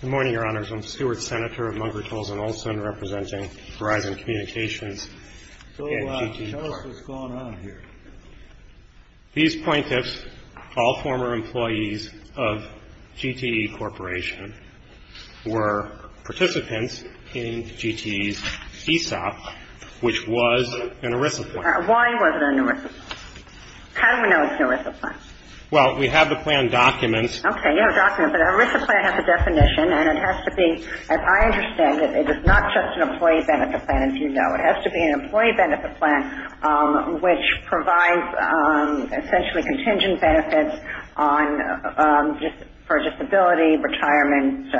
Good morning, Your Honors. I'm Stuart Senator of Munkertals & Olson representing Verizon Communications and GTE Corporation. So tell us what's going on here. These plaintiffs, all former employees of GTE Corporation, were participants in GTE's ESOP, which was an ERISA plan. Why was it an ERISA plan? How do we know it's an ERISA plan? Well, we have the plan documents. Okay, you have a document, but an ERISA plan has a definition, and it has to be, as I understand it, it is not just an employee benefit plan, as you know. It has to be an employee benefit plan, which provides essentially contingent benefits for disability, retirement,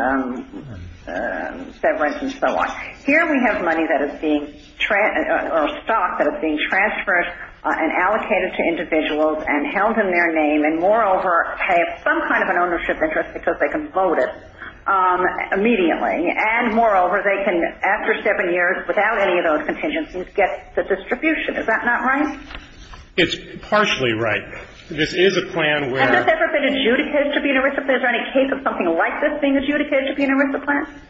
severance, and so on. Here we have money that is being – or stock that is being transferred and allocated to individuals and held in their name and, moreover, have some kind of an ownership interest because they can vote it immediately. And, moreover, they can, after seven years, without any of those contingencies, get the distribution. Is that not right? It's partially right. This is a plan where – Has this ever been adjudicated to be an ERISA plan? Is there any case of something like this being adjudicated to be an ERISA plan?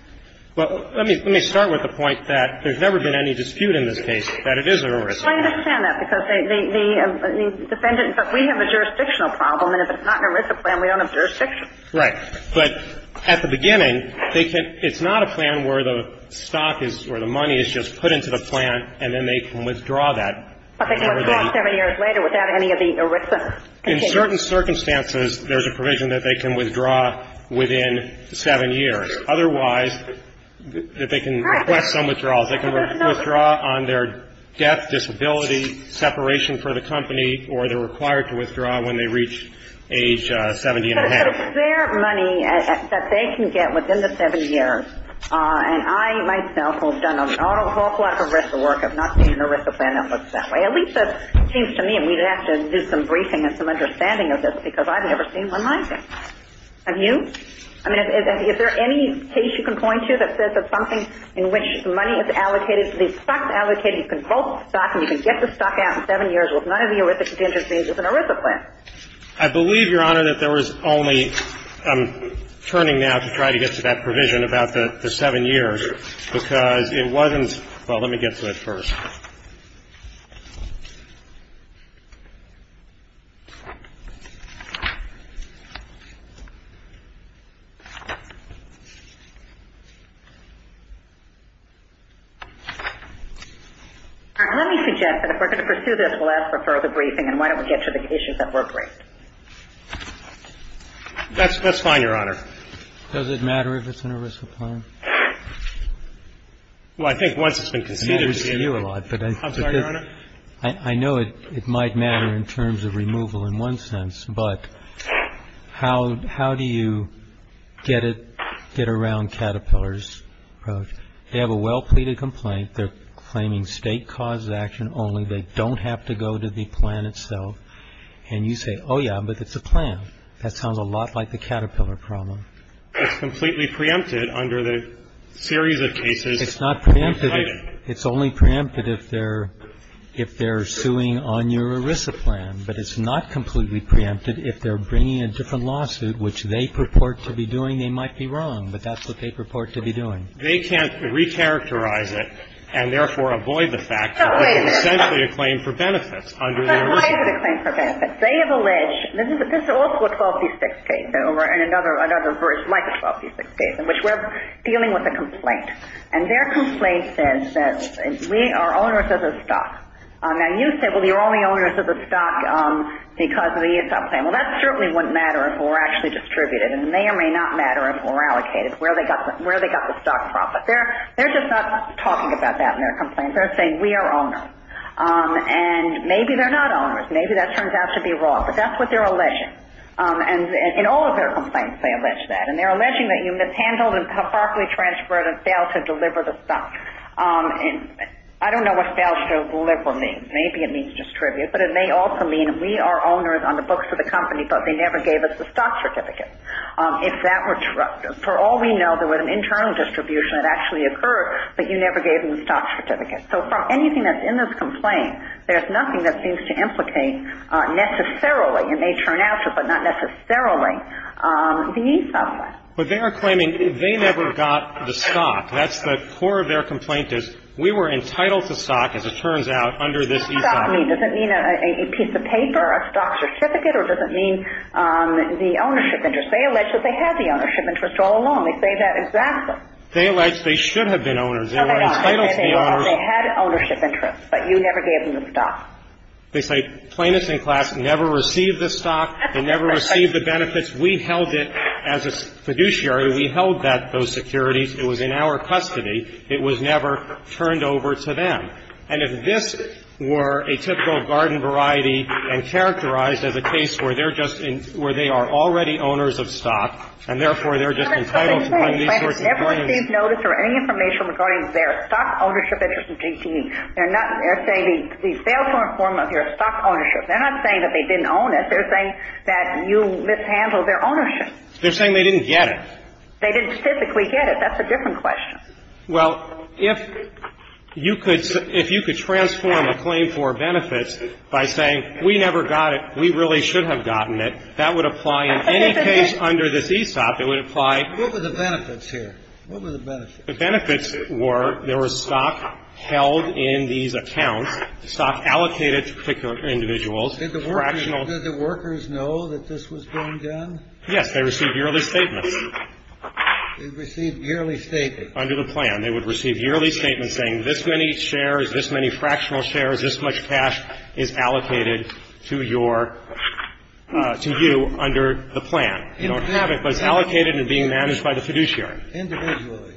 Well, let me – let me start with the point that there's never been any dispute in this case that it is an ERISA plan. I understand that because the defendant – but we have a jurisdictional problem, and if it's not an ERISA plan, we don't have jurisdiction. Right. But at the beginning, they can – it's not a plan where the stock is – or the money is just put into the plan and then they can withdraw that. But they can withdraw it seven years later without any of the ERISA contingency. Under certain circumstances, there's a provision that they can withdraw within seven years. Otherwise, that they can request some withdrawals. They can withdraw on their death, disability, separation for the company, or they're required to withdraw when they reach age 70 and a half. But it's their money that they can get within the seven years. And I, myself, have done an awful lot of ERISA work. I've not seen an ERISA plan that looks that way. At least it seems to me, and we'd have to do some briefing and some understanding of this, because I've never seen one like it. Have you? I mean, is there any case you can point to that says that something in which money is allocated, the stock's allocated, you can bulk the stock and you can get the stock out in seven years with none of the ERISA contingencies as an ERISA plan? I believe, Your Honor, that there was only – I'm turning now to try to get to that provision about the seven years, because it wasn't – well, let me get to it first. Let me suggest that if we're going to pursue this, we'll ask for further briefing, and why don't we get to the issues at work first. That's fine, Your Honor. Does it matter if it's an ERISA plan? Well, I think once it's been conceded to you. I'm sorry, Your Honor. I know it might matter in terms of removal in one sense, but how do you get it – get around Caterpillar's approach? They have a well-pleaded complaint. They're claiming State-caused action only. They don't have to go to the plan itself. And you say, oh, yeah, but it's a plan. That sounds a lot like the Caterpillar problem. It's completely preempted under the series of cases. It's not preempted. It's only preempted if they're – if they're suing on your ERISA plan. But it's not completely preempted if they're bringing a different lawsuit, which they purport to be doing. They might be wrong, but that's what they purport to be doing. They can't recharacterize it and, therefore, avoid the fact that it's essentially a claim for benefits under their ERISA plan. So why is it a claim for benefits? They have alleged – this is also a 1236 case, and another version, like a 1236 case, in which we're dealing with a complaint. And their complaint says that we are owners of the stock. Now, you say, well, you're only owners of the stock because of the ERISA plan. Well, that certainly wouldn't matter if it were actually distributed. It may or may not matter if it were allocated, where they got the stock profit. They're just not talking about that in their complaint. They're saying we are owners. And maybe they're not owners. Maybe that turns out to be wrong. But that's what they're alleging. And in all of their complaints, they allege that. And they're alleging that you mishandled and improperly transferred and failed to deliver the stock. And I don't know what failed to deliver means. Maybe it means distribute. But it may also mean we are owners on the books of the company, but they never gave us the stock certificate. If that were – for all we know, there was an internal distribution that actually occurred, but you never gave them the stock certificate. So from anything that's in this complaint, there's nothing that seems to implicate necessarily – But they are claiming they never got the stock. That's the core of their complaint is we were entitled to stock, as it turns out, under this ECOP. What does stock mean? Does it mean a piece of paper, a stock certificate? Or does it mean the ownership interest? They allege that they had the ownership interest all along. They say that exactly. They allege they should have been owners. They were entitled to be owners. No, they don't. They say they had ownership interest, but you never gave them the stock. They say plaintiffs in class never received the stock. They never received the benefits. We held it as a fiduciary. We held that – those securities. It was in our custody. It was never turned over to them. And if this were a typical garden variety and characterized as a case where they're just – where they are already owners of stock, and therefore they're just entitled to these sorts of claims – But it's the same thing. Plaintiffs never received notice or any information regarding their stock ownership interest in GTE. They're not – they're saying we failed to inform of your stock ownership. They're not saying that they didn't own it. They're saying that you mishandled their ownership. They're saying they didn't get it. They didn't specifically get it. That's a different question. Well, if you could – if you could transform a claim for benefits by saying we never got it, we really should have gotten it, that would apply in any case under this ESOP. It would apply – What were the benefits here? What were the benefits? The benefits were there was stock held in these accounts, stock allocated to particular individuals. Did the workers know that this was being done? Yes. They received yearly statements. They received yearly statements. Under the plan. They would receive yearly statements saying this many shares, this many fractional shares, this much cash is allocated to your – to you under the plan. But it's allocated and being managed by the fiduciary. Individually.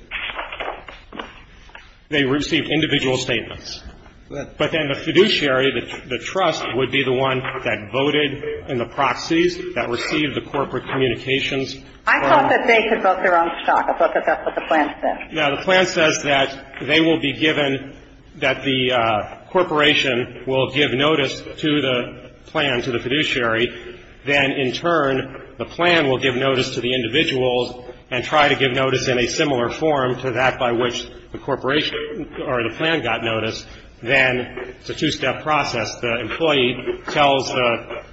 They received individual statements. But then the fiduciary, the trust, would be the one that voted in the proxies that received the corporate communications. I thought that they could vote their own stock. I thought that that's what the plan said. No, the plan says that they will be given – that the corporation will give notice to the plan, to the fiduciary. Then, in turn, the plan will give notice to the individuals and try to give notice in a similar form to that by which the corporation or the plan got notice. Then it's a two-step process. The employee tells the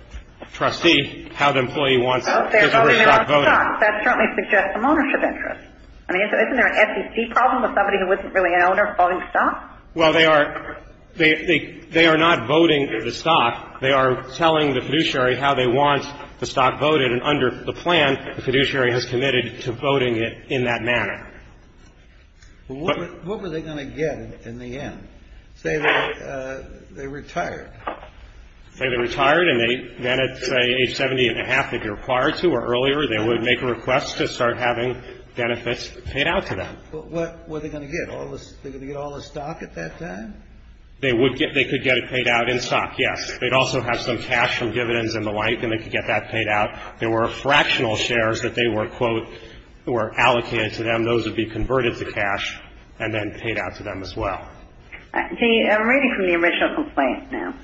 trustee how the employee wants his or her stock voted. That certainly suggests some ownership interest. I mean, isn't there an SEC problem with somebody who isn't really an owner voting stock? Well, they are – they are not voting the stock. They are telling the fiduciary how they want the stock voted. And under the plan, the fiduciary has committed to voting it in that manner. But what were they going to get in the end? Say that they retired. Say they retired, and then at, say, age 70 and a half, if you're required to or earlier, they would make a request to start having benefits paid out to them. But what were they going to get? All the – they were going to get all the stock at that time? They would get – they could get it paid out in stock, yes. They'd also have some cash from dividends and the like, and they could get that paid out. There were fractional shares that they were, quote, were allocated to them. Those would be converted to cash and then paid out to them as well. I'm reading from the original complaint now.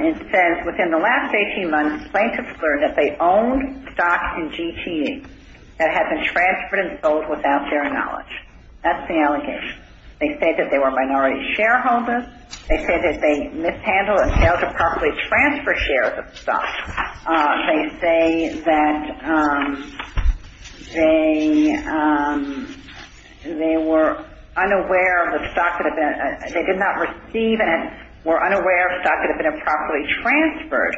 It says, within the last 18 months, plaintiffs learned that they owned stocks in GTE that had been transferred and sold without their knowledge. That's the allegation. They said that they were minority shareholders. They said that they mishandled and failed to properly transfer shares of the stock. They say that they were unaware of the stock that had been – they did not receive and were unaware of stock that had been improperly transferred.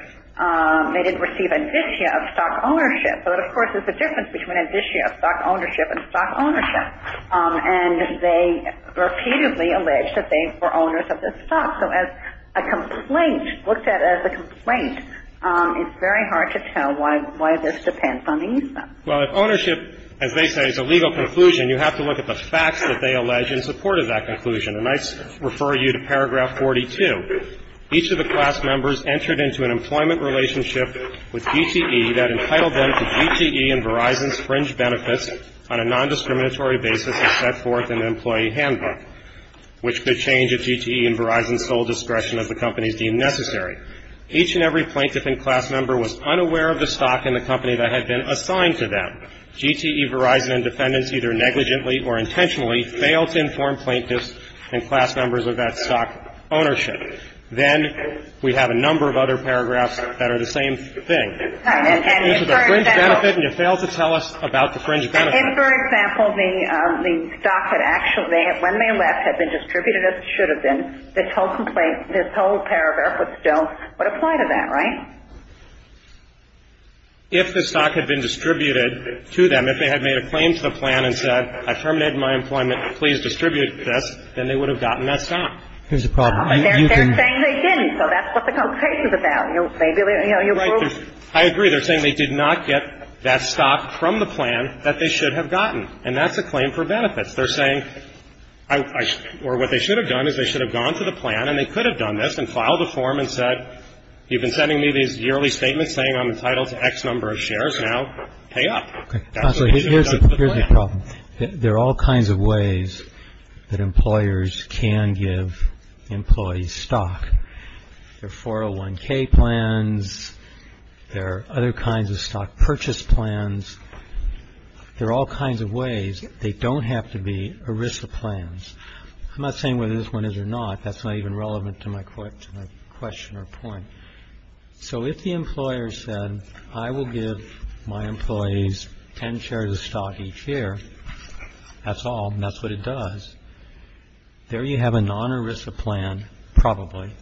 They didn't receive indicia of stock ownership. But, of course, there's a difference between indicia of stock ownership and stock ownership. And they repeatedly alleged that they were owners of the stock. So as a complaint, looked at as a complaint, it's very hard to tell why this depends on the incident. Well, if ownership, as they say, is a legal conclusion, you have to look at the facts that they allege in support of that conclusion. And I refer you to paragraph 42. Each of the class members entered into an employment relationship with GTE that entitled them to GTE and Verizon's fringe benefits on a nondiscriminatory basis as set forth in the employee handbook, which could change if GTE and Verizon sold discretion as the companies deemed necessary. Each and every plaintiff and class member was unaware of the stock in the company that had been assigned to them. GTE, Verizon, and defendants either negligently or intentionally failed to inform plaintiffs and class members of that stock ownership. Then we have a number of other paragraphs that are the same thing. And this is a fringe benefit, and you fail to tell us about the fringe benefit. If, for example, the stock had actually, when they left, had been distributed as it should have been, this whole paragraph would apply to that, right? If the stock had been distributed to them, if they had made a claim to the plan and said, I terminated my employment, please distribute this, then they would have gotten that stock. There's a problem. They're saying they didn't. So that's what the complaint is about. I agree. They're saying they did not get that stock from the plan that they should have gotten. And that's a claim for benefits. They're saying, or what they should have done is they should have gone to the plan, and they could have done this, and filed a form and said, you've been sending me these yearly statements saying I'm entitled to X number of shares, now pay up. Okay. Here's the problem. There are all kinds of ways that employers can give employees stock. There are 401K plans. There are other kinds of stock purchase plans. There are all kinds of ways. They don't have to be ERISA plans. I'm not saying whether this one is or not. That's not even relevant to my question or point. So if the employer said, I will give my employees 10 shares of stock each year, that's all. That's what it does. There you have a non-ERISA plan, probably,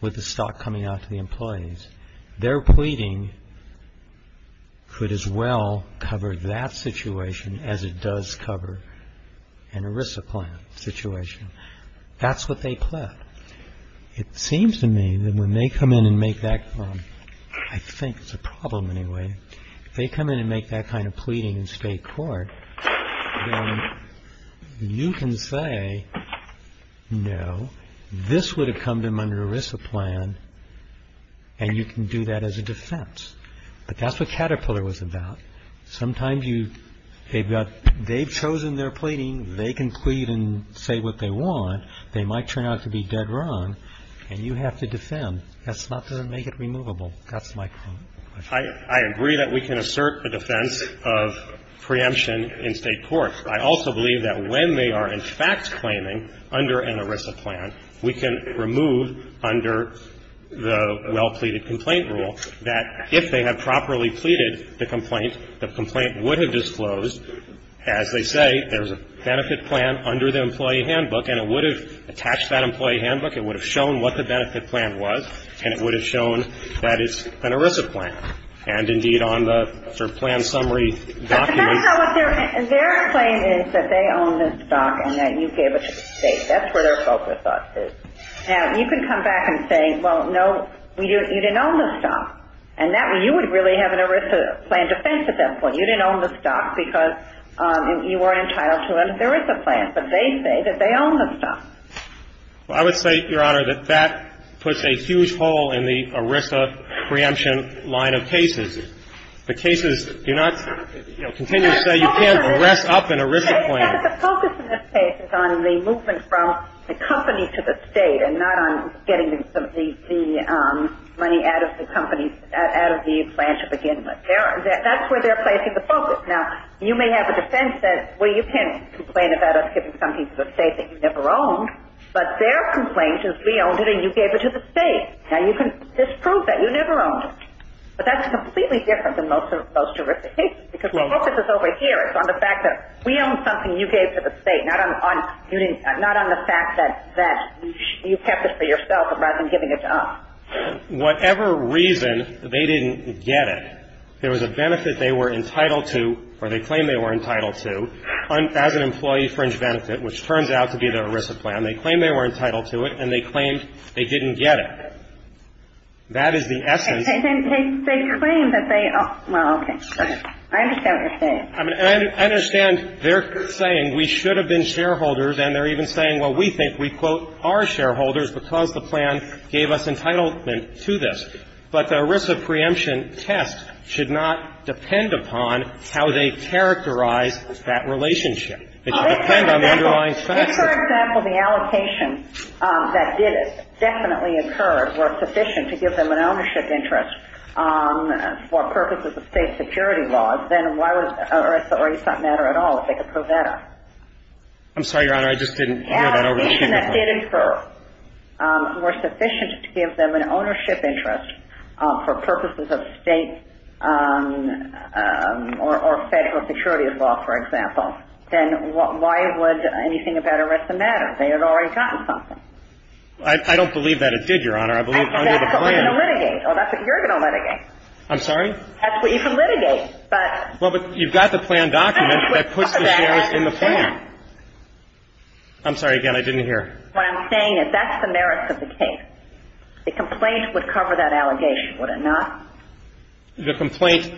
with the stock coming out to the employees. Their pleading could as well cover that situation as it does cover an ERISA plan situation. That's what they pled. It seems to me that when they come in and make that, I think it's a problem anyway, if they come in and make that kind of pleading in state court, then you can say, no, this would have come to them under an ERISA plan, and you can do that as a defense. But that's what Caterpillar was about. Sometimes they've chosen their pleading. They can plead and say what they want. They might turn out to be dead wrong, and you have to defend. That's not to make it removable. That's my point. I agree that we can assert a defense of preemption in state court. I also believe that when they are in fact claiming under an ERISA plan, we can remove under the well-pleaded complaint rule that if they have properly pleaded the complaint, the complaint would have disclosed, as they say, there's a benefit plan under the employee handbook, and it would have attached that employee handbook. It would have shown what the benefit plan was, and it would have shown that it's an ERISA plan. And, indeed, on the plan summary document ---- But that's not what they're ---- their claim is that they own the stock and that you gave it to the state. That's where their focus is. Now, you can come back and say, well, no, you didn't own the stock. And that way you would really have an ERISA plan defense at that point. You didn't own the stock because you weren't entitled to an ERISA plan. But they say that they own the stock. Well, I would say, Your Honor, that that puts a huge hole in the ERISA preemption line of cases. The cases do not, you know, continue to say you can't arrest up an ERISA plan. But the focus in this case is on the movement from the company to the state and not on getting the money out of the company, out of the branch of a gentleman. That's where they're placing the focus. Now, you may have a defense that, well, you can't complain about us giving something to the state that you never owned, but their complaint is we owned it and you gave it to the state. Now, you can disprove that. You never owned it. But that's completely different than most jurisdictions because the focus is over here. It's on the fact that we owned something you gave to the state, not on the fact that you kept it for yourself rather than giving it to us. Whatever reason, they didn't get it. There was a benefit they were entitled to or they claimed they were entitled to as an employee fringe benefit, which turns out to be the ERISA plan. They claimed they were entitled to it, and they claimed they didn't get it. That is the essence. And they claim that they are. Well, okay. I understand what you're saying. I mean, I understand they're saying we should have been shareholders, and they're even saying, well, we think we, quote, are shareholders because the plan gave us entitlement to this. But the ERISA preemption test should not depend upon how they characterize that relationship. It should depend on the underlying factor. If, for example, the allocation that did definitely occur were sufficient to give them an ownership interest for purposes of state security laws, then why would ERISA or ESA matter at all if they could prove that up? I'm sorry, Your Honor. I just didn't hear that. If the allocation that did occur were sufficient to give them an ownership interest for purposes of state or federal security law, for example, then why would anything about ERISA matter? They had already gotten something. I don't believe that it did, Your Honor. I believe under the plan. That's what we're going to litigate. Oh, that's what you're going to litigate. I'm sorry? That's what you can litigate. Well, but you've got the plan document that puts the shares in the plan. I'm sorry. Again, I didn't hear. What I'm saying is that's the merits of the case. The complaint would cover that allegation, would it not? The complaint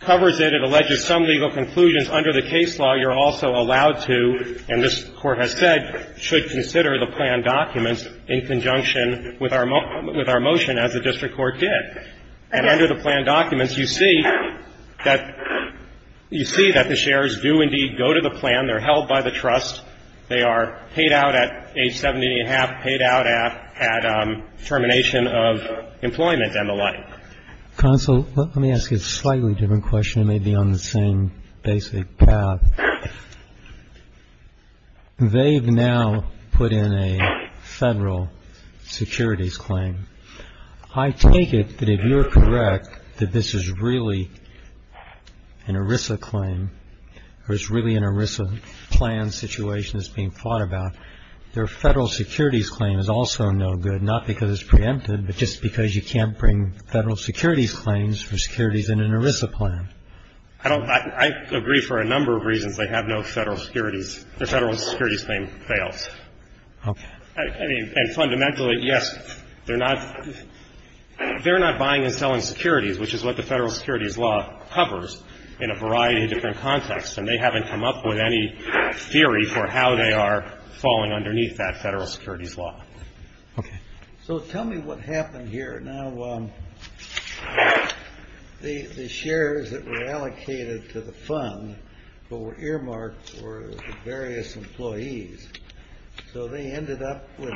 covers it. It alleges some legal conclusions. Under the case law, you're also allowed to, and this Court has said, should consider the plan documents in conjunction with our motion as the district court did. And under the plan documents, you see that the shares do indeed go to the plan. They're held by the trust. They are paid out at age 70 and a half, paid out at termination of employment and the like. Counsel, let me ask you a slightly different question. It may be on the same basic path. They've now put in a federal securities claim. I take it that if you're correct that this is really an ERISA claim or it's really an ERISA plan situation that's being thought about, their federal securities claim is also no good, not because it's preempted, but just because you can't bring federal securities claims for securities in an ERISA plan. I agree for a number of reasons they have no federal securities. Their federal securities claim fails. Okay. I mean, and fundamentally, yes, they're not buying and selling securities, which is what the federal securities law covers in a variety of different contexts, and they haven't come up with any theory for how they are falling underneath that federal securities law. Okay. So tell me what happened here. Now, the shares that were allocated to the fund were earmarked for the various employees. So they ended up with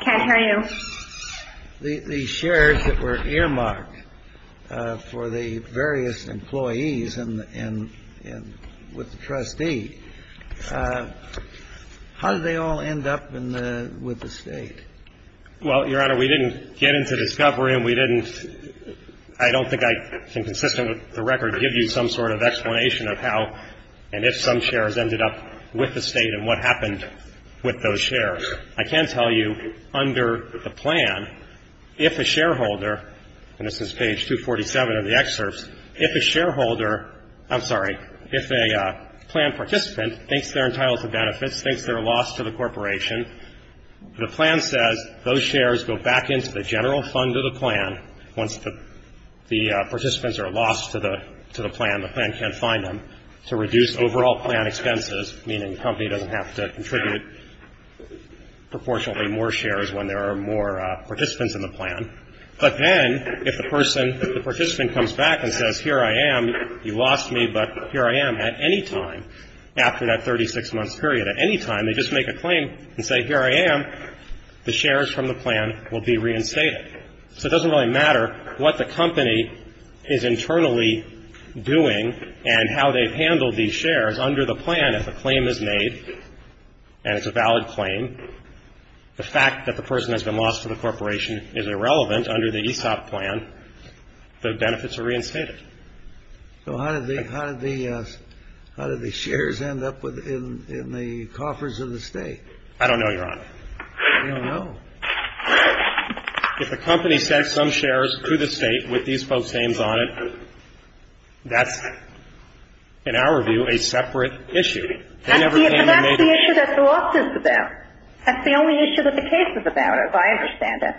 the shares that were earmarked for the various employees and with the trustee. How did they all end up with the State? Well, Your Honor, we didn't get into discovery, and we didn't ‑‑ I don't think I can, consistent with the record, give you some sort of explanation of how and if some shares ended up with the State and what happened with those shares. I can tell you under the plan, if a shareholder, and this is page 247 of the excerpts, if a shareholder ‑‑ I'm sorry. If a plan participant thinks they're entitled to benefits, thinks they're a loss to the corporation, the plan says those shares go back into the general fund of the plan. Once the participants are lost to the plan, the plan can't find them, to reduce overall plan expenses, meaning the company doesn't have to contribute proportionately more shares when there are more participants in the plan. But then if the person, if the participant comes back and says, here I am, you lost me, but here I am at any time after that 36‑month period, at any time, they just make a claim and say, here I am, the shares from the plan will be reinstated. So it doesn't really matter what the company is internally doing and how they've handled these shares under the plan if a claim is made and it's a valid claim. The fact that the person has been lost to the corporation is irrelevant under the ESOP plan. The benefits are reinstated. So how did the shares end up in the coffers of the State? I don't know, Your Honor. You don't know? If the company sent some shares to the State with these folks' names on it, that's, in our view, a separate issue. They never came and made a claim. But that's the issue that the lawsuit is about. That's the only issue that the case is about, as I understand it.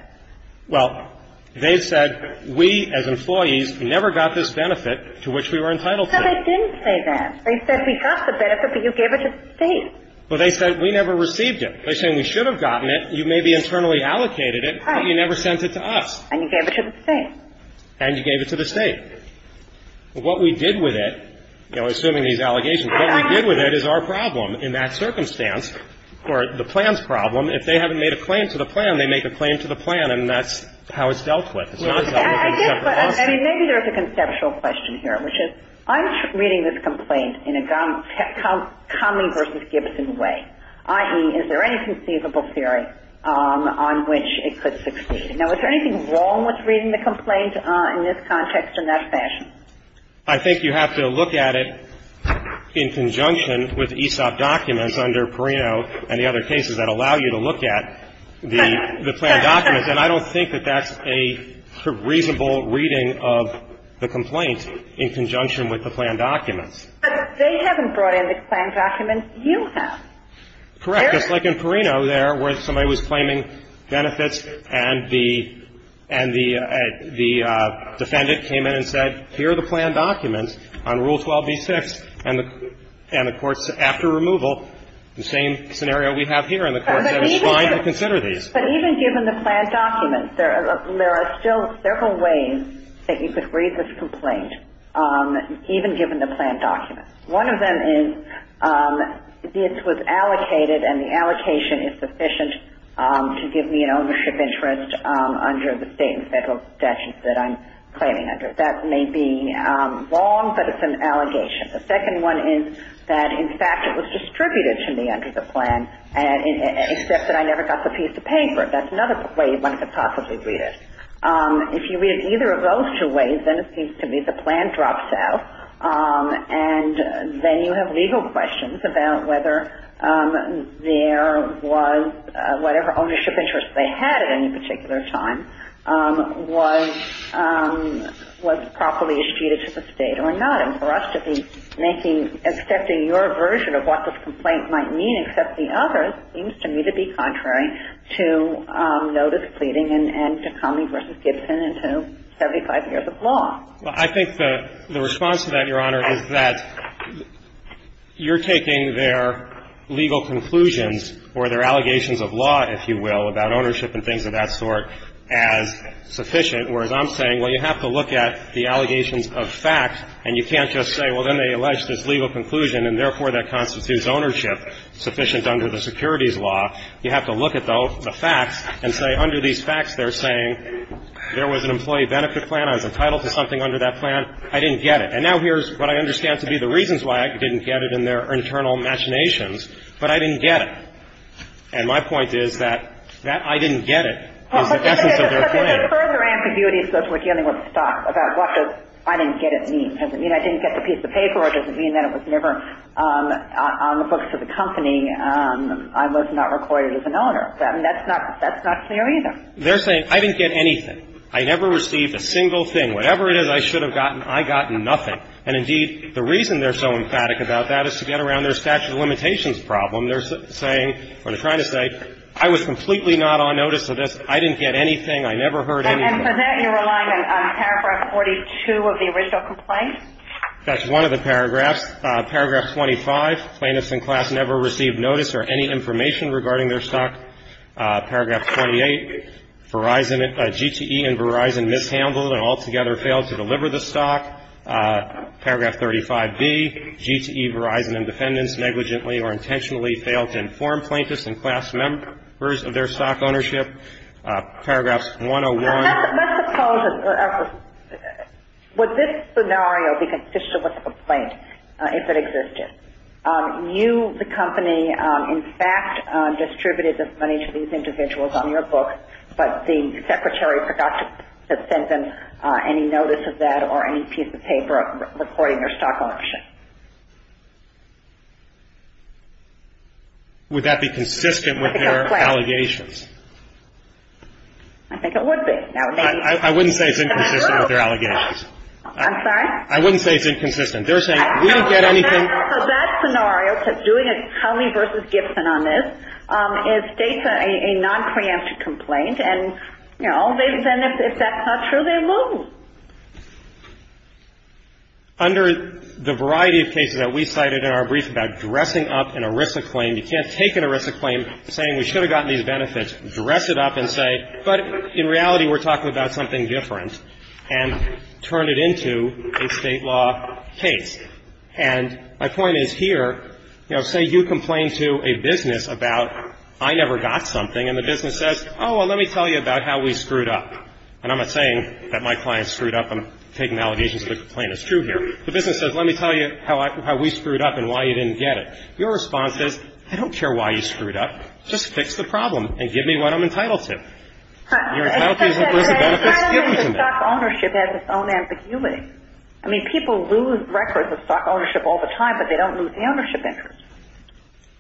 Well, they said we, as employees, never got this benefit to which we were entitled to. No, they didn't say that. They said we got the benefit, but you gave it to the State. Well, they said we never received it. They're saying we should have gotten it. You maybe internally allocated it, but you never sent it to us. And you gave it to the State. And you gave it to the State. What we did with it, you know, assuming these allegations, what we did with it is our problem. In that circumstance, or the plan's problem, if they haven't made a claim to the plan, they make a claim to the plan, and that's how it's dealt with. Yes, I did, but I mean, maybe there's a conceptual question here, which is I'm reading this complaint in a Conley v. Gibson way, i.e., is there any conceivable theory on which it could succeed? Now, is there anything wrong with reading the complaint in this context in that fashion? I think you have to look at it in conjunction with ESOP documents under Perino and the other cases that allow you to look at the plan documents. And I don't think that that's a reasonable reading of the complaint in conjunction with the plan documents. But they haven't brought in the plan documents. You have. Correct. Just like in Perino there, where somebody was claiming benefits, and the defendant came in and said, here are the plan documents on Rule 12b-6. And of course, after removal, the same scenario we have here, and the Court said it's fine to consider these. But even given the plan documents, there are still several ways that you could read this complaint, even given the plan documents. One of them is this was allocated, and the allocation is sufficient to give me an ownership interest under the state and federal statutes that I'm claiming under it. That may be wrong, but it's an allegation. The second one is that, in fact, it was distributed to me under the plan, except that I never got the piece of paper. That's another way one could possibly read it. If you read it either of those two ways, then it seems to me the plan drops out. And then you have legal questions about whether there was whatever ownership interest they had at any particular time was properly distributed to the state or not. And for us to be making – accepting your version of what this complaint might mean, except the other, seems to me to be contrary to notice pleading and to Comey v. Gibson and to 75 years of law. Well, I think the response to that, Your Honor, is that you're taking their legal conclusions, or their allegations of law, if you will, about ownership and things of that sort, as sufficient. Whereas I'm saying, well, you have to look at the allegations of facts, and you can't just say, well, then they allege this legal conclusion and, therefore, that constitutes ownership sufficient under the securities law. You have to look at the facts and say, under these facts, they're saying there was an employee benefit plan, I was entitled to something under that plan, I didn't get it. And now here's what I understand to be the reasons why I didn't get it in their internal machinations, but I didn't get it. And my point is that that I didn't get it is the essence of their claim. The further ambiguity is those who are dealing with the stock, about what does I didn't get it mean. Does it mean I didn't get the piece of paper, or does it mean that it was never on the books of the company? I was not recorded as an owner. That's not clear either. They're saying, I didn't get anything. I never received a single thing. Whatever it is I should have gotten, I got nothing. And, indeed, the reason they're so emphatic about that is to get around their statute of limitations problem. They're saying, or they're trying to say, I was completely not on notice of this. I didn't get anything. I never heard anything. And for that you're relying on paragraph 42 of the original complaint? That's one of the paragraphs. Paragraph 25, plaintiffs in class never received notice or any information regarding their stock. Paragraph 28, Verizon, GTE and Verizon mishandled and altogether failed to deliver the stock. Paragraph 35B, GTE, Verizon and defendants negligently or intentionally failed to inform plaintiffs and class members of their stock ownership. Paragraphs 101. Let's suppose, would this scenario be consistent with the complaint if it existed? You, the company, in fact distributed this money to these individuals on your book, but the secretary forgot to send them any notice of that or any piece of paper recording their stock ownership. Would that be consistent with their allegations? I think it would be. I wouldn't say it's inconsistent with their allegations. I'm sorry? I wouldn't say it's inconsistent. They're saying, we didn't get anything. For that scenario, doing a Howley v. Gibson on this, it states a nonpreemptive complaint. And, you know, then if that's not true, they lose. Under the variety of cases that we cited in our brief about dressing up an ERISA claim, you can't take an ERISA claim saying we should have gotten these benefits, dress it up and say, but in reality we're talking about something different, and turn it into a state law case. And my point is here, you know, say you complain to a business about I never got something, and the business says, oh, well, let me tell you about how we screwed up. And I'm not saying that my client screwed up. I'm taking allegations of the complaint. It's true here. The business says, let me tell you how we screwed up and why you didn't get it. Your response is, I don't care why you screwed up. Just fix the problem and give me what I'm entitled to. Your entitlement to stock ownership has its own ambiguity. I mean, people lose records of stock ownership all the time, but they don't lose the ownership interest.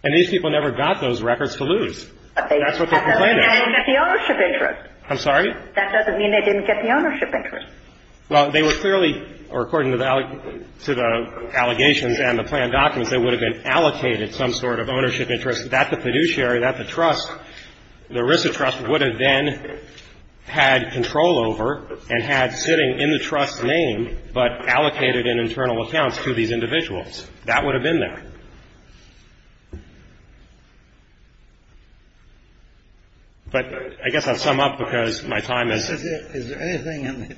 And these people never got those records to lose. That's what their complaint is. They didn't get the ownership interest. I'm sorry? That doesn't mean they didn't get the ownership interest. Well, they were clearly, or according to the allegations and the planned documents, they would have been allocated some sort of ownership interest that the fiduciary, that the trust, the RISA trust would have then had control over and had sitting in the trust's name but allocated in internal accounts to these individuals. That would have been there. But I guess I'll sum up because my time is up. Is there anything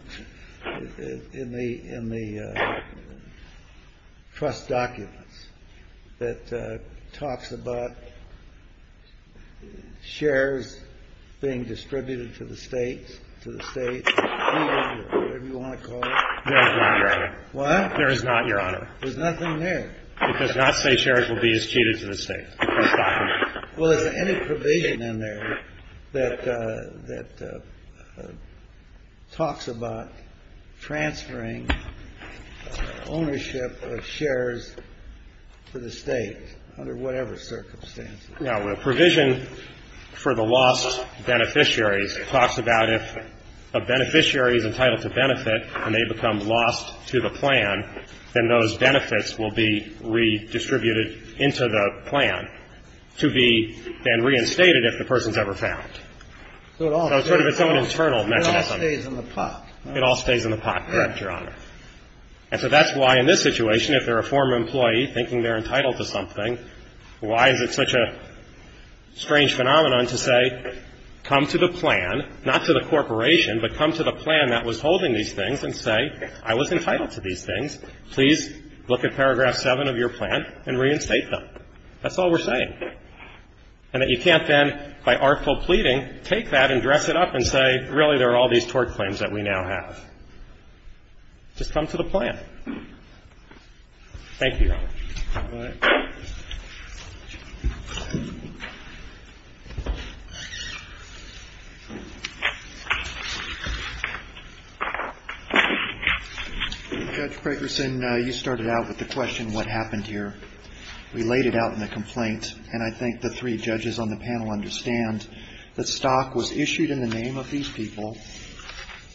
in the trust documents that talks about shares being distributed to the states, to the states, whatever you want to call it? There is not, Your Honor. What? There is not, Your Honor. There's nothing there. It does not say shares will be distributed to the states in this document. Well, is there any provision in there that talks about transferring ownership of shares to the states under whatever circumstances? No. The provision for the lost beneficiaries talks about if a beneficiary is entitled to benefit and they become lost to the plan, then those benefits will be redistributed into the plan to be then reinstated if the person's ever found. So it all stays in the pot. It all stays in the pot, correct, Your Honor. And so that's why in this situation, if they're a former employee thinking they're entitled to something, why is it such a strange phenomenon to say come to the plan, not to the corporation, but come to the plan that was holding these things and say, I was entitled to these things. Please look at paragraph 7 of your plan and reinstate them. That's all we're saying. And that you can't then, by artful pleading, take that and dress it up and say, really there are all these tort claims that we now have. Thank you, Your Honor. All right. Judge Prakerson, you started out with the question what happened here. We laid it out in the complaint, and I think the three judges on the panel understand that stock was issued in the name of these people.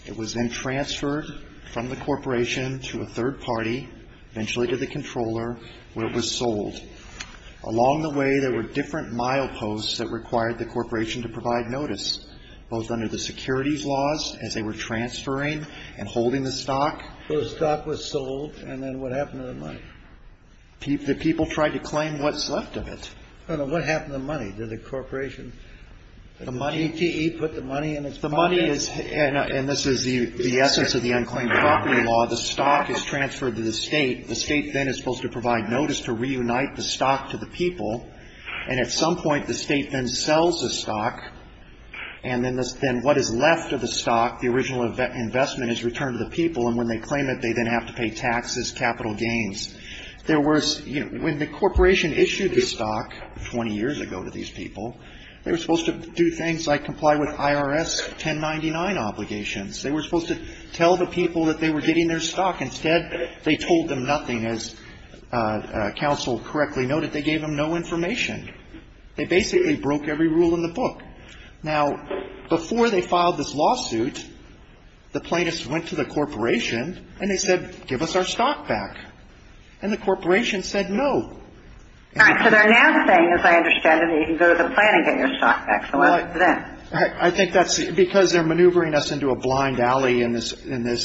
It was then transferred from the corporation to a third party, eventually to the controller, where it was sold. Along the way, there were different mileposts that required the corporation to provide notice, both under the securities laws as they were transferring and holding the stock. So the stock was sold, and then what happened to the money? The people tried to claim what's left of it. What happened to the money? Did the corporation, did the ATE put the money in its pockets? The money is, and this is the essence of the unclaimed property law, the stock is transferred to the state. The state then is supposed to provide notice to reunite the stock to the people, and at some point the state then sells the stock, and then what is left of the stock, the original investment, is returned to the people, and when they claim it, they then have to pay taxes, capital gains. There was, you know, when the corporation issued the stock 20 years ago to these people, they were supposed to do things like comply with IRS 1099 obligations. They were supposed to tell the people that they were getting their stock. Instead, they told them nothing. As counsel correctly noted, they gave them no information. They basically broke every rule in the book. Now, before they filed this lawsuit, the plaintiffs went to the corporation, and they said, give us our stock back, and the corporation said no. All right. So they're now saying, as I understand it, you can go to the plant and get your stock back. So what's then? I think that's because they're maneuvering us into a blind alley in this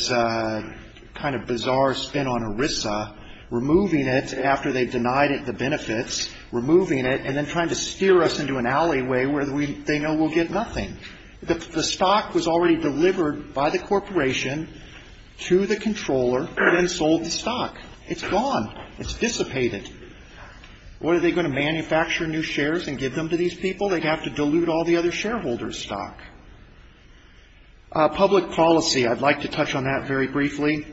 kind of bizarre spin on ERISA, removing it after they've denied it the benefits, removing it, and then trying to steer us into an alleyway where they know we'll get nothing. The stock was already delivered by the corporation to the controller, then sold the stock. It's gone. It's dissipated. What are they going to manufacture new shares and give them to these people? They'd have to dilute all the other shareholders' stock. Public policy. I'd like to touch on that very briefly.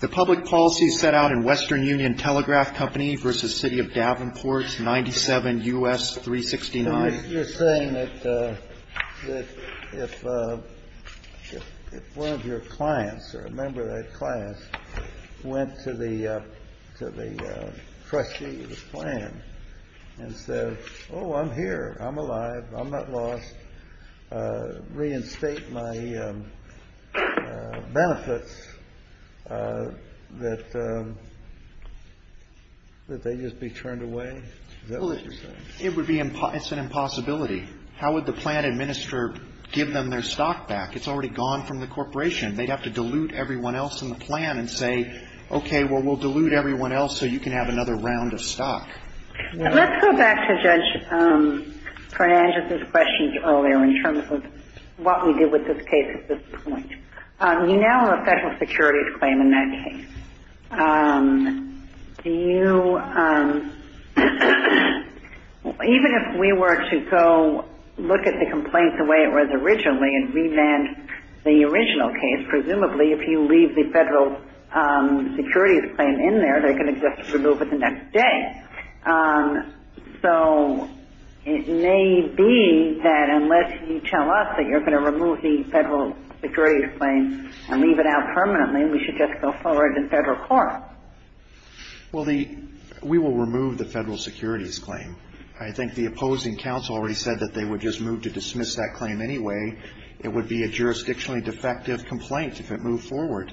The public policy set out in Western Union Telegraph Company v. City of Davenport, 97 U.S. 369. You're saying that if one of your clients or a member of that class went to the trustee of the plant and said, oh, I'm here, I'm alive, I'm not lost, reinstate my benefits, that they'd just be turned away? It's an impossibility. How would the plant administrator give them their stock back? It's already gone from the corporation. They'd have to dilute everyone else in the plant and say, okay, well, we'll dilute everyone else so you can have another round of stock. Let's go back to Judge Parnagia's questions earlier in terms of what we did with this case at this point. You now have a federal securities claim in that case. Do you – even if we were to go look at the complaints the way it was originally and remand the original case, presumably if you leave the federal securities claim in there, they're going to just remove it the next day. So it may be that unless you tell us that you're going to remove the federal securities claim and leave it out permanently, we should just go forward in federal court. Well, we will remove the federal securities claim. I think the opposing counsel already said that they would just move to dismiss that claim anyway. It would be a jurisdictionally defective complaint if it moved forward.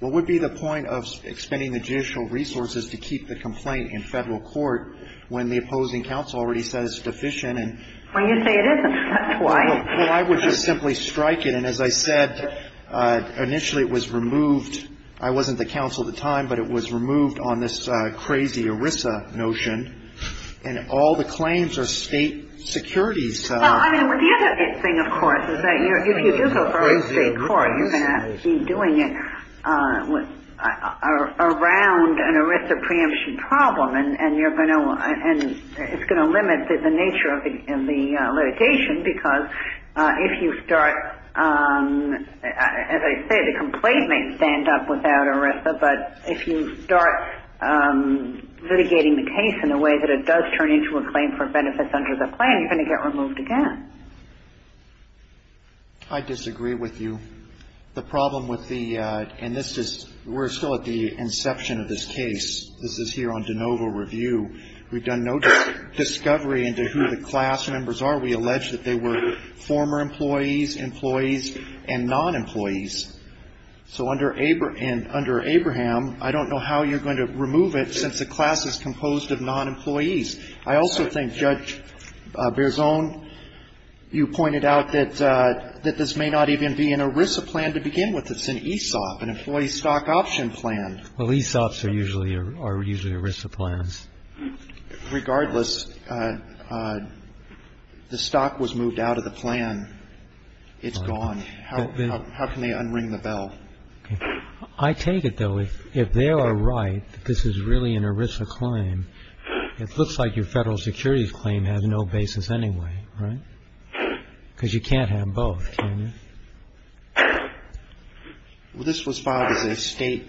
What would be the point of expending the judicial resources to keep the complaint in federal court when the opposing counsel already said it's deficient? Well, you say it isn't. That's why. Well, I would just simply strike it. And as I said, initially it was removed. I wasn't the counsel at the time, but it was removed on this crazy ERISA notion. And all the claims are state securities. Well, I mean, the other thing, of course, is that if you do go forward in state court, you're going to be doing it around an ERISA preemption problem. And it's going to limit the nature of the litigation because if you start, as I say, the complaint may stand up without ERISA, but if you start litigating the case in a way that it does turn into a claim for benefits under the plan, you're going to get removed again. I disagree with you. The problem with the – and this is – we're still at the inception of this case. This is here on de novo review. We've done no discovery into who the class members are. We allege that they were former employees, employees, and non-employees. So under Abraham, I don't know how you're going to remove it since the class is composed of non-employees. I also think Judge Berzon, you pointed out that this may not even be an ERISA plan to begin with. It's an ESOP, an Employee Stock Option Plan. Well, ESOPs are usually ERISA plans. Regardless, the stock was moved out of the plan. It's gone. How can they unring the bell? I take it, though, if they are right that this is really an ERISA claim, it looks like your federal securities claim has no basis anyway, right? Because you can't have both, can you? Well, this was filed as a state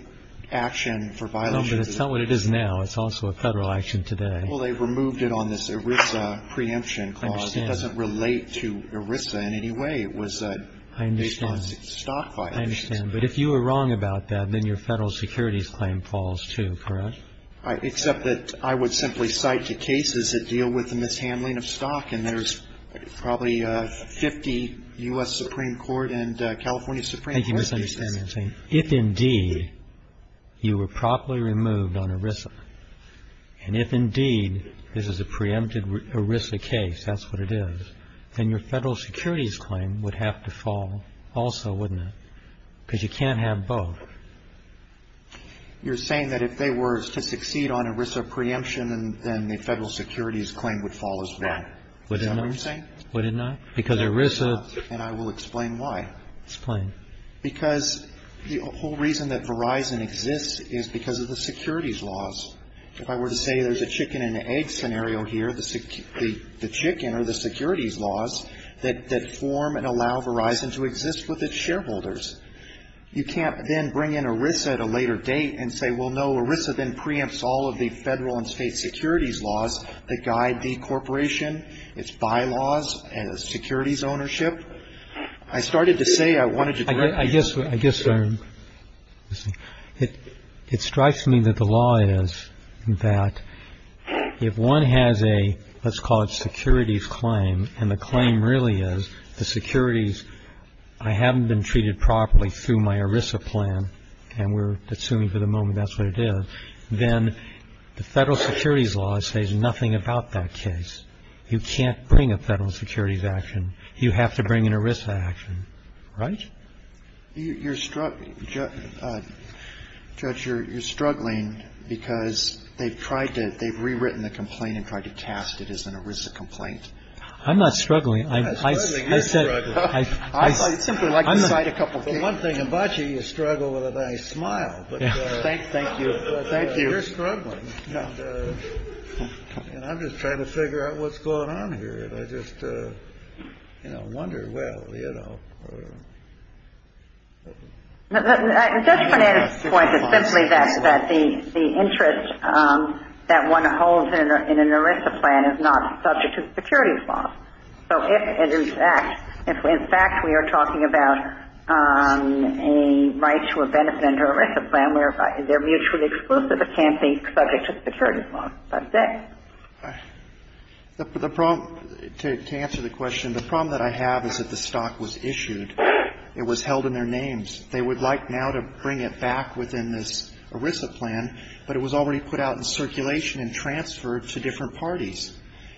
action for violation. No, but it's not what it is now. It's also a federal action today. Well, they removed it on this ERISA preemption clause. I understand. It doesn't relate to ERISA in any way. It was based on stock violations. I understand. But if you were wrong about that, then your federal securities claim falls too, correct? Except that I would simply cite the cases that deal with the mishandling of stock, and there's probably 50 U.S. Supreme Court and California Supreme Court cases. Thank you for understanding what I'm saying. If, indeed, you were properly removed on ERISA, and if, indeed, this is a preempted ERISA case, that's what it is, then your federal securities claim would have to fall also, wouldn't it? Because you can't have both. You're saying that if they were to succeed on ERISA preemption, then the federal securities claim would fall as well. Is that what you're saying? Would it not? Because ERISA ---- And I will explain why. Explain. Because the whole reason that Verizon exists is because of the securities laws. If I were to say there's a chicken and egg scenario here, the chicken or the securities laws that form and allow Verizon to exist with its shareholders. You can't then bring in ERISA at a later date and say, well, no, ERISA then preempts all of the federal and state securities laws that guide the corporation, its bylaws, and its securities ownership. I started to say I wanted to correct you. I guess it strikes me that the law is that if one has a, let's call it securities claim, and the claim really is the securities, I haven't been treated properly through my ERISA plan, and we're assuming for the moment that's what it is, then the federal securities law says nothing about that case. You can't bring a federal securities action. You have to bring an ERISA action. Right? You're struggling, Judge, you're struggling because they've tried to, they've rewritten the complaint and tried to cast it as an ERISA complaint. I'm not struggling. I simply like to cite a couple cases. One thing about you, you struggle with a nice smile. Thank you. Thank you. You're struggling. And I'm just trying to figure out what's going on here, and I just, you know, wonder, well, you know. The judge's point is simply that the interest that one holds in an ERISA plan is not subject to the securities law. So if, in fact, we are talking about a right to a benefit under an ERISA plan where they're mutually exclusive, it can't be subject to the securities law. That's it. The problem, to answer the question, the problem that I have is that the stock was issued. It was held in their names. They would like now to bring it back within this ERISA plan, but it was already put out in circulation and transferred to different parties.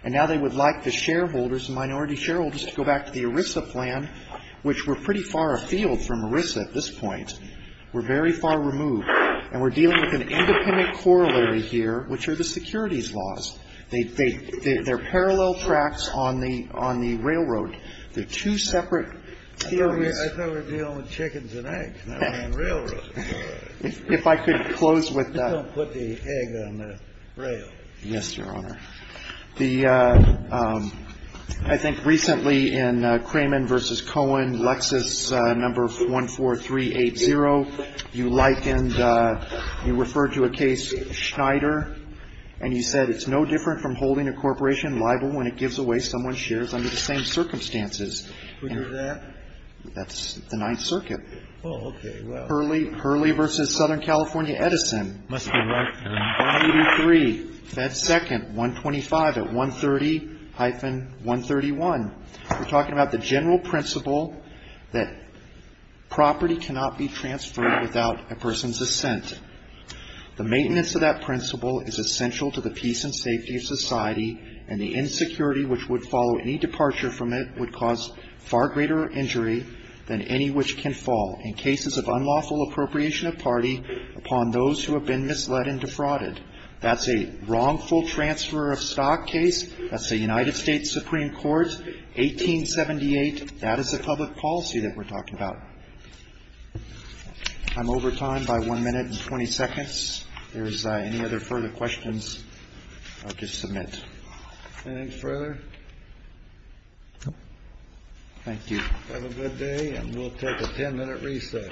And now they would like the shareholders, the minority shareholders, to go back to the ERISA plan, which were pretty far afield from ERISA at this point, were very far removed. And we're dealing with an independent corollary here, which are the securities laws. They're parallel tracks on the railroad. They're two separate areas. I thought we were dealing with chickens and eggs, not railroads. If I could close with that. You don't put the egg on the rail. Yes, Your Honor. The ‑‑ I think recently in Cramond v. Cohen, Lexis, number 14380, you likened ‑‑ you referred to a case, Schneider, and you said, it's no different from holding a corporation liable when it gives away someone's shares under the same circumstances. Which is that? That's the Ninth Circuit. Oh, okay. Hurley v. Southern California Edison. Must be right. 183, Fed Second, 125 at 130-131. We're talking about the general principle that property cannot be transferred without a person's assent. The maintenance of that principle is essential to the peace and safety of society, and the insecurity which would follow any departure from it would cause far greater injury than any which can fall. In cases of unlawful appropriation of party upon those who have been misled and defrauded. That's a wrongful transfer of stock case. That's the United States Supreme Court, 1878. That is the public policy that we're talking about. I'm over time by one minute and 20 seconds. If there's any other further questions, I'll just submit. Anything further? No. Thank you. Have a good day, and we'll take a ten‑minute recess. Applause.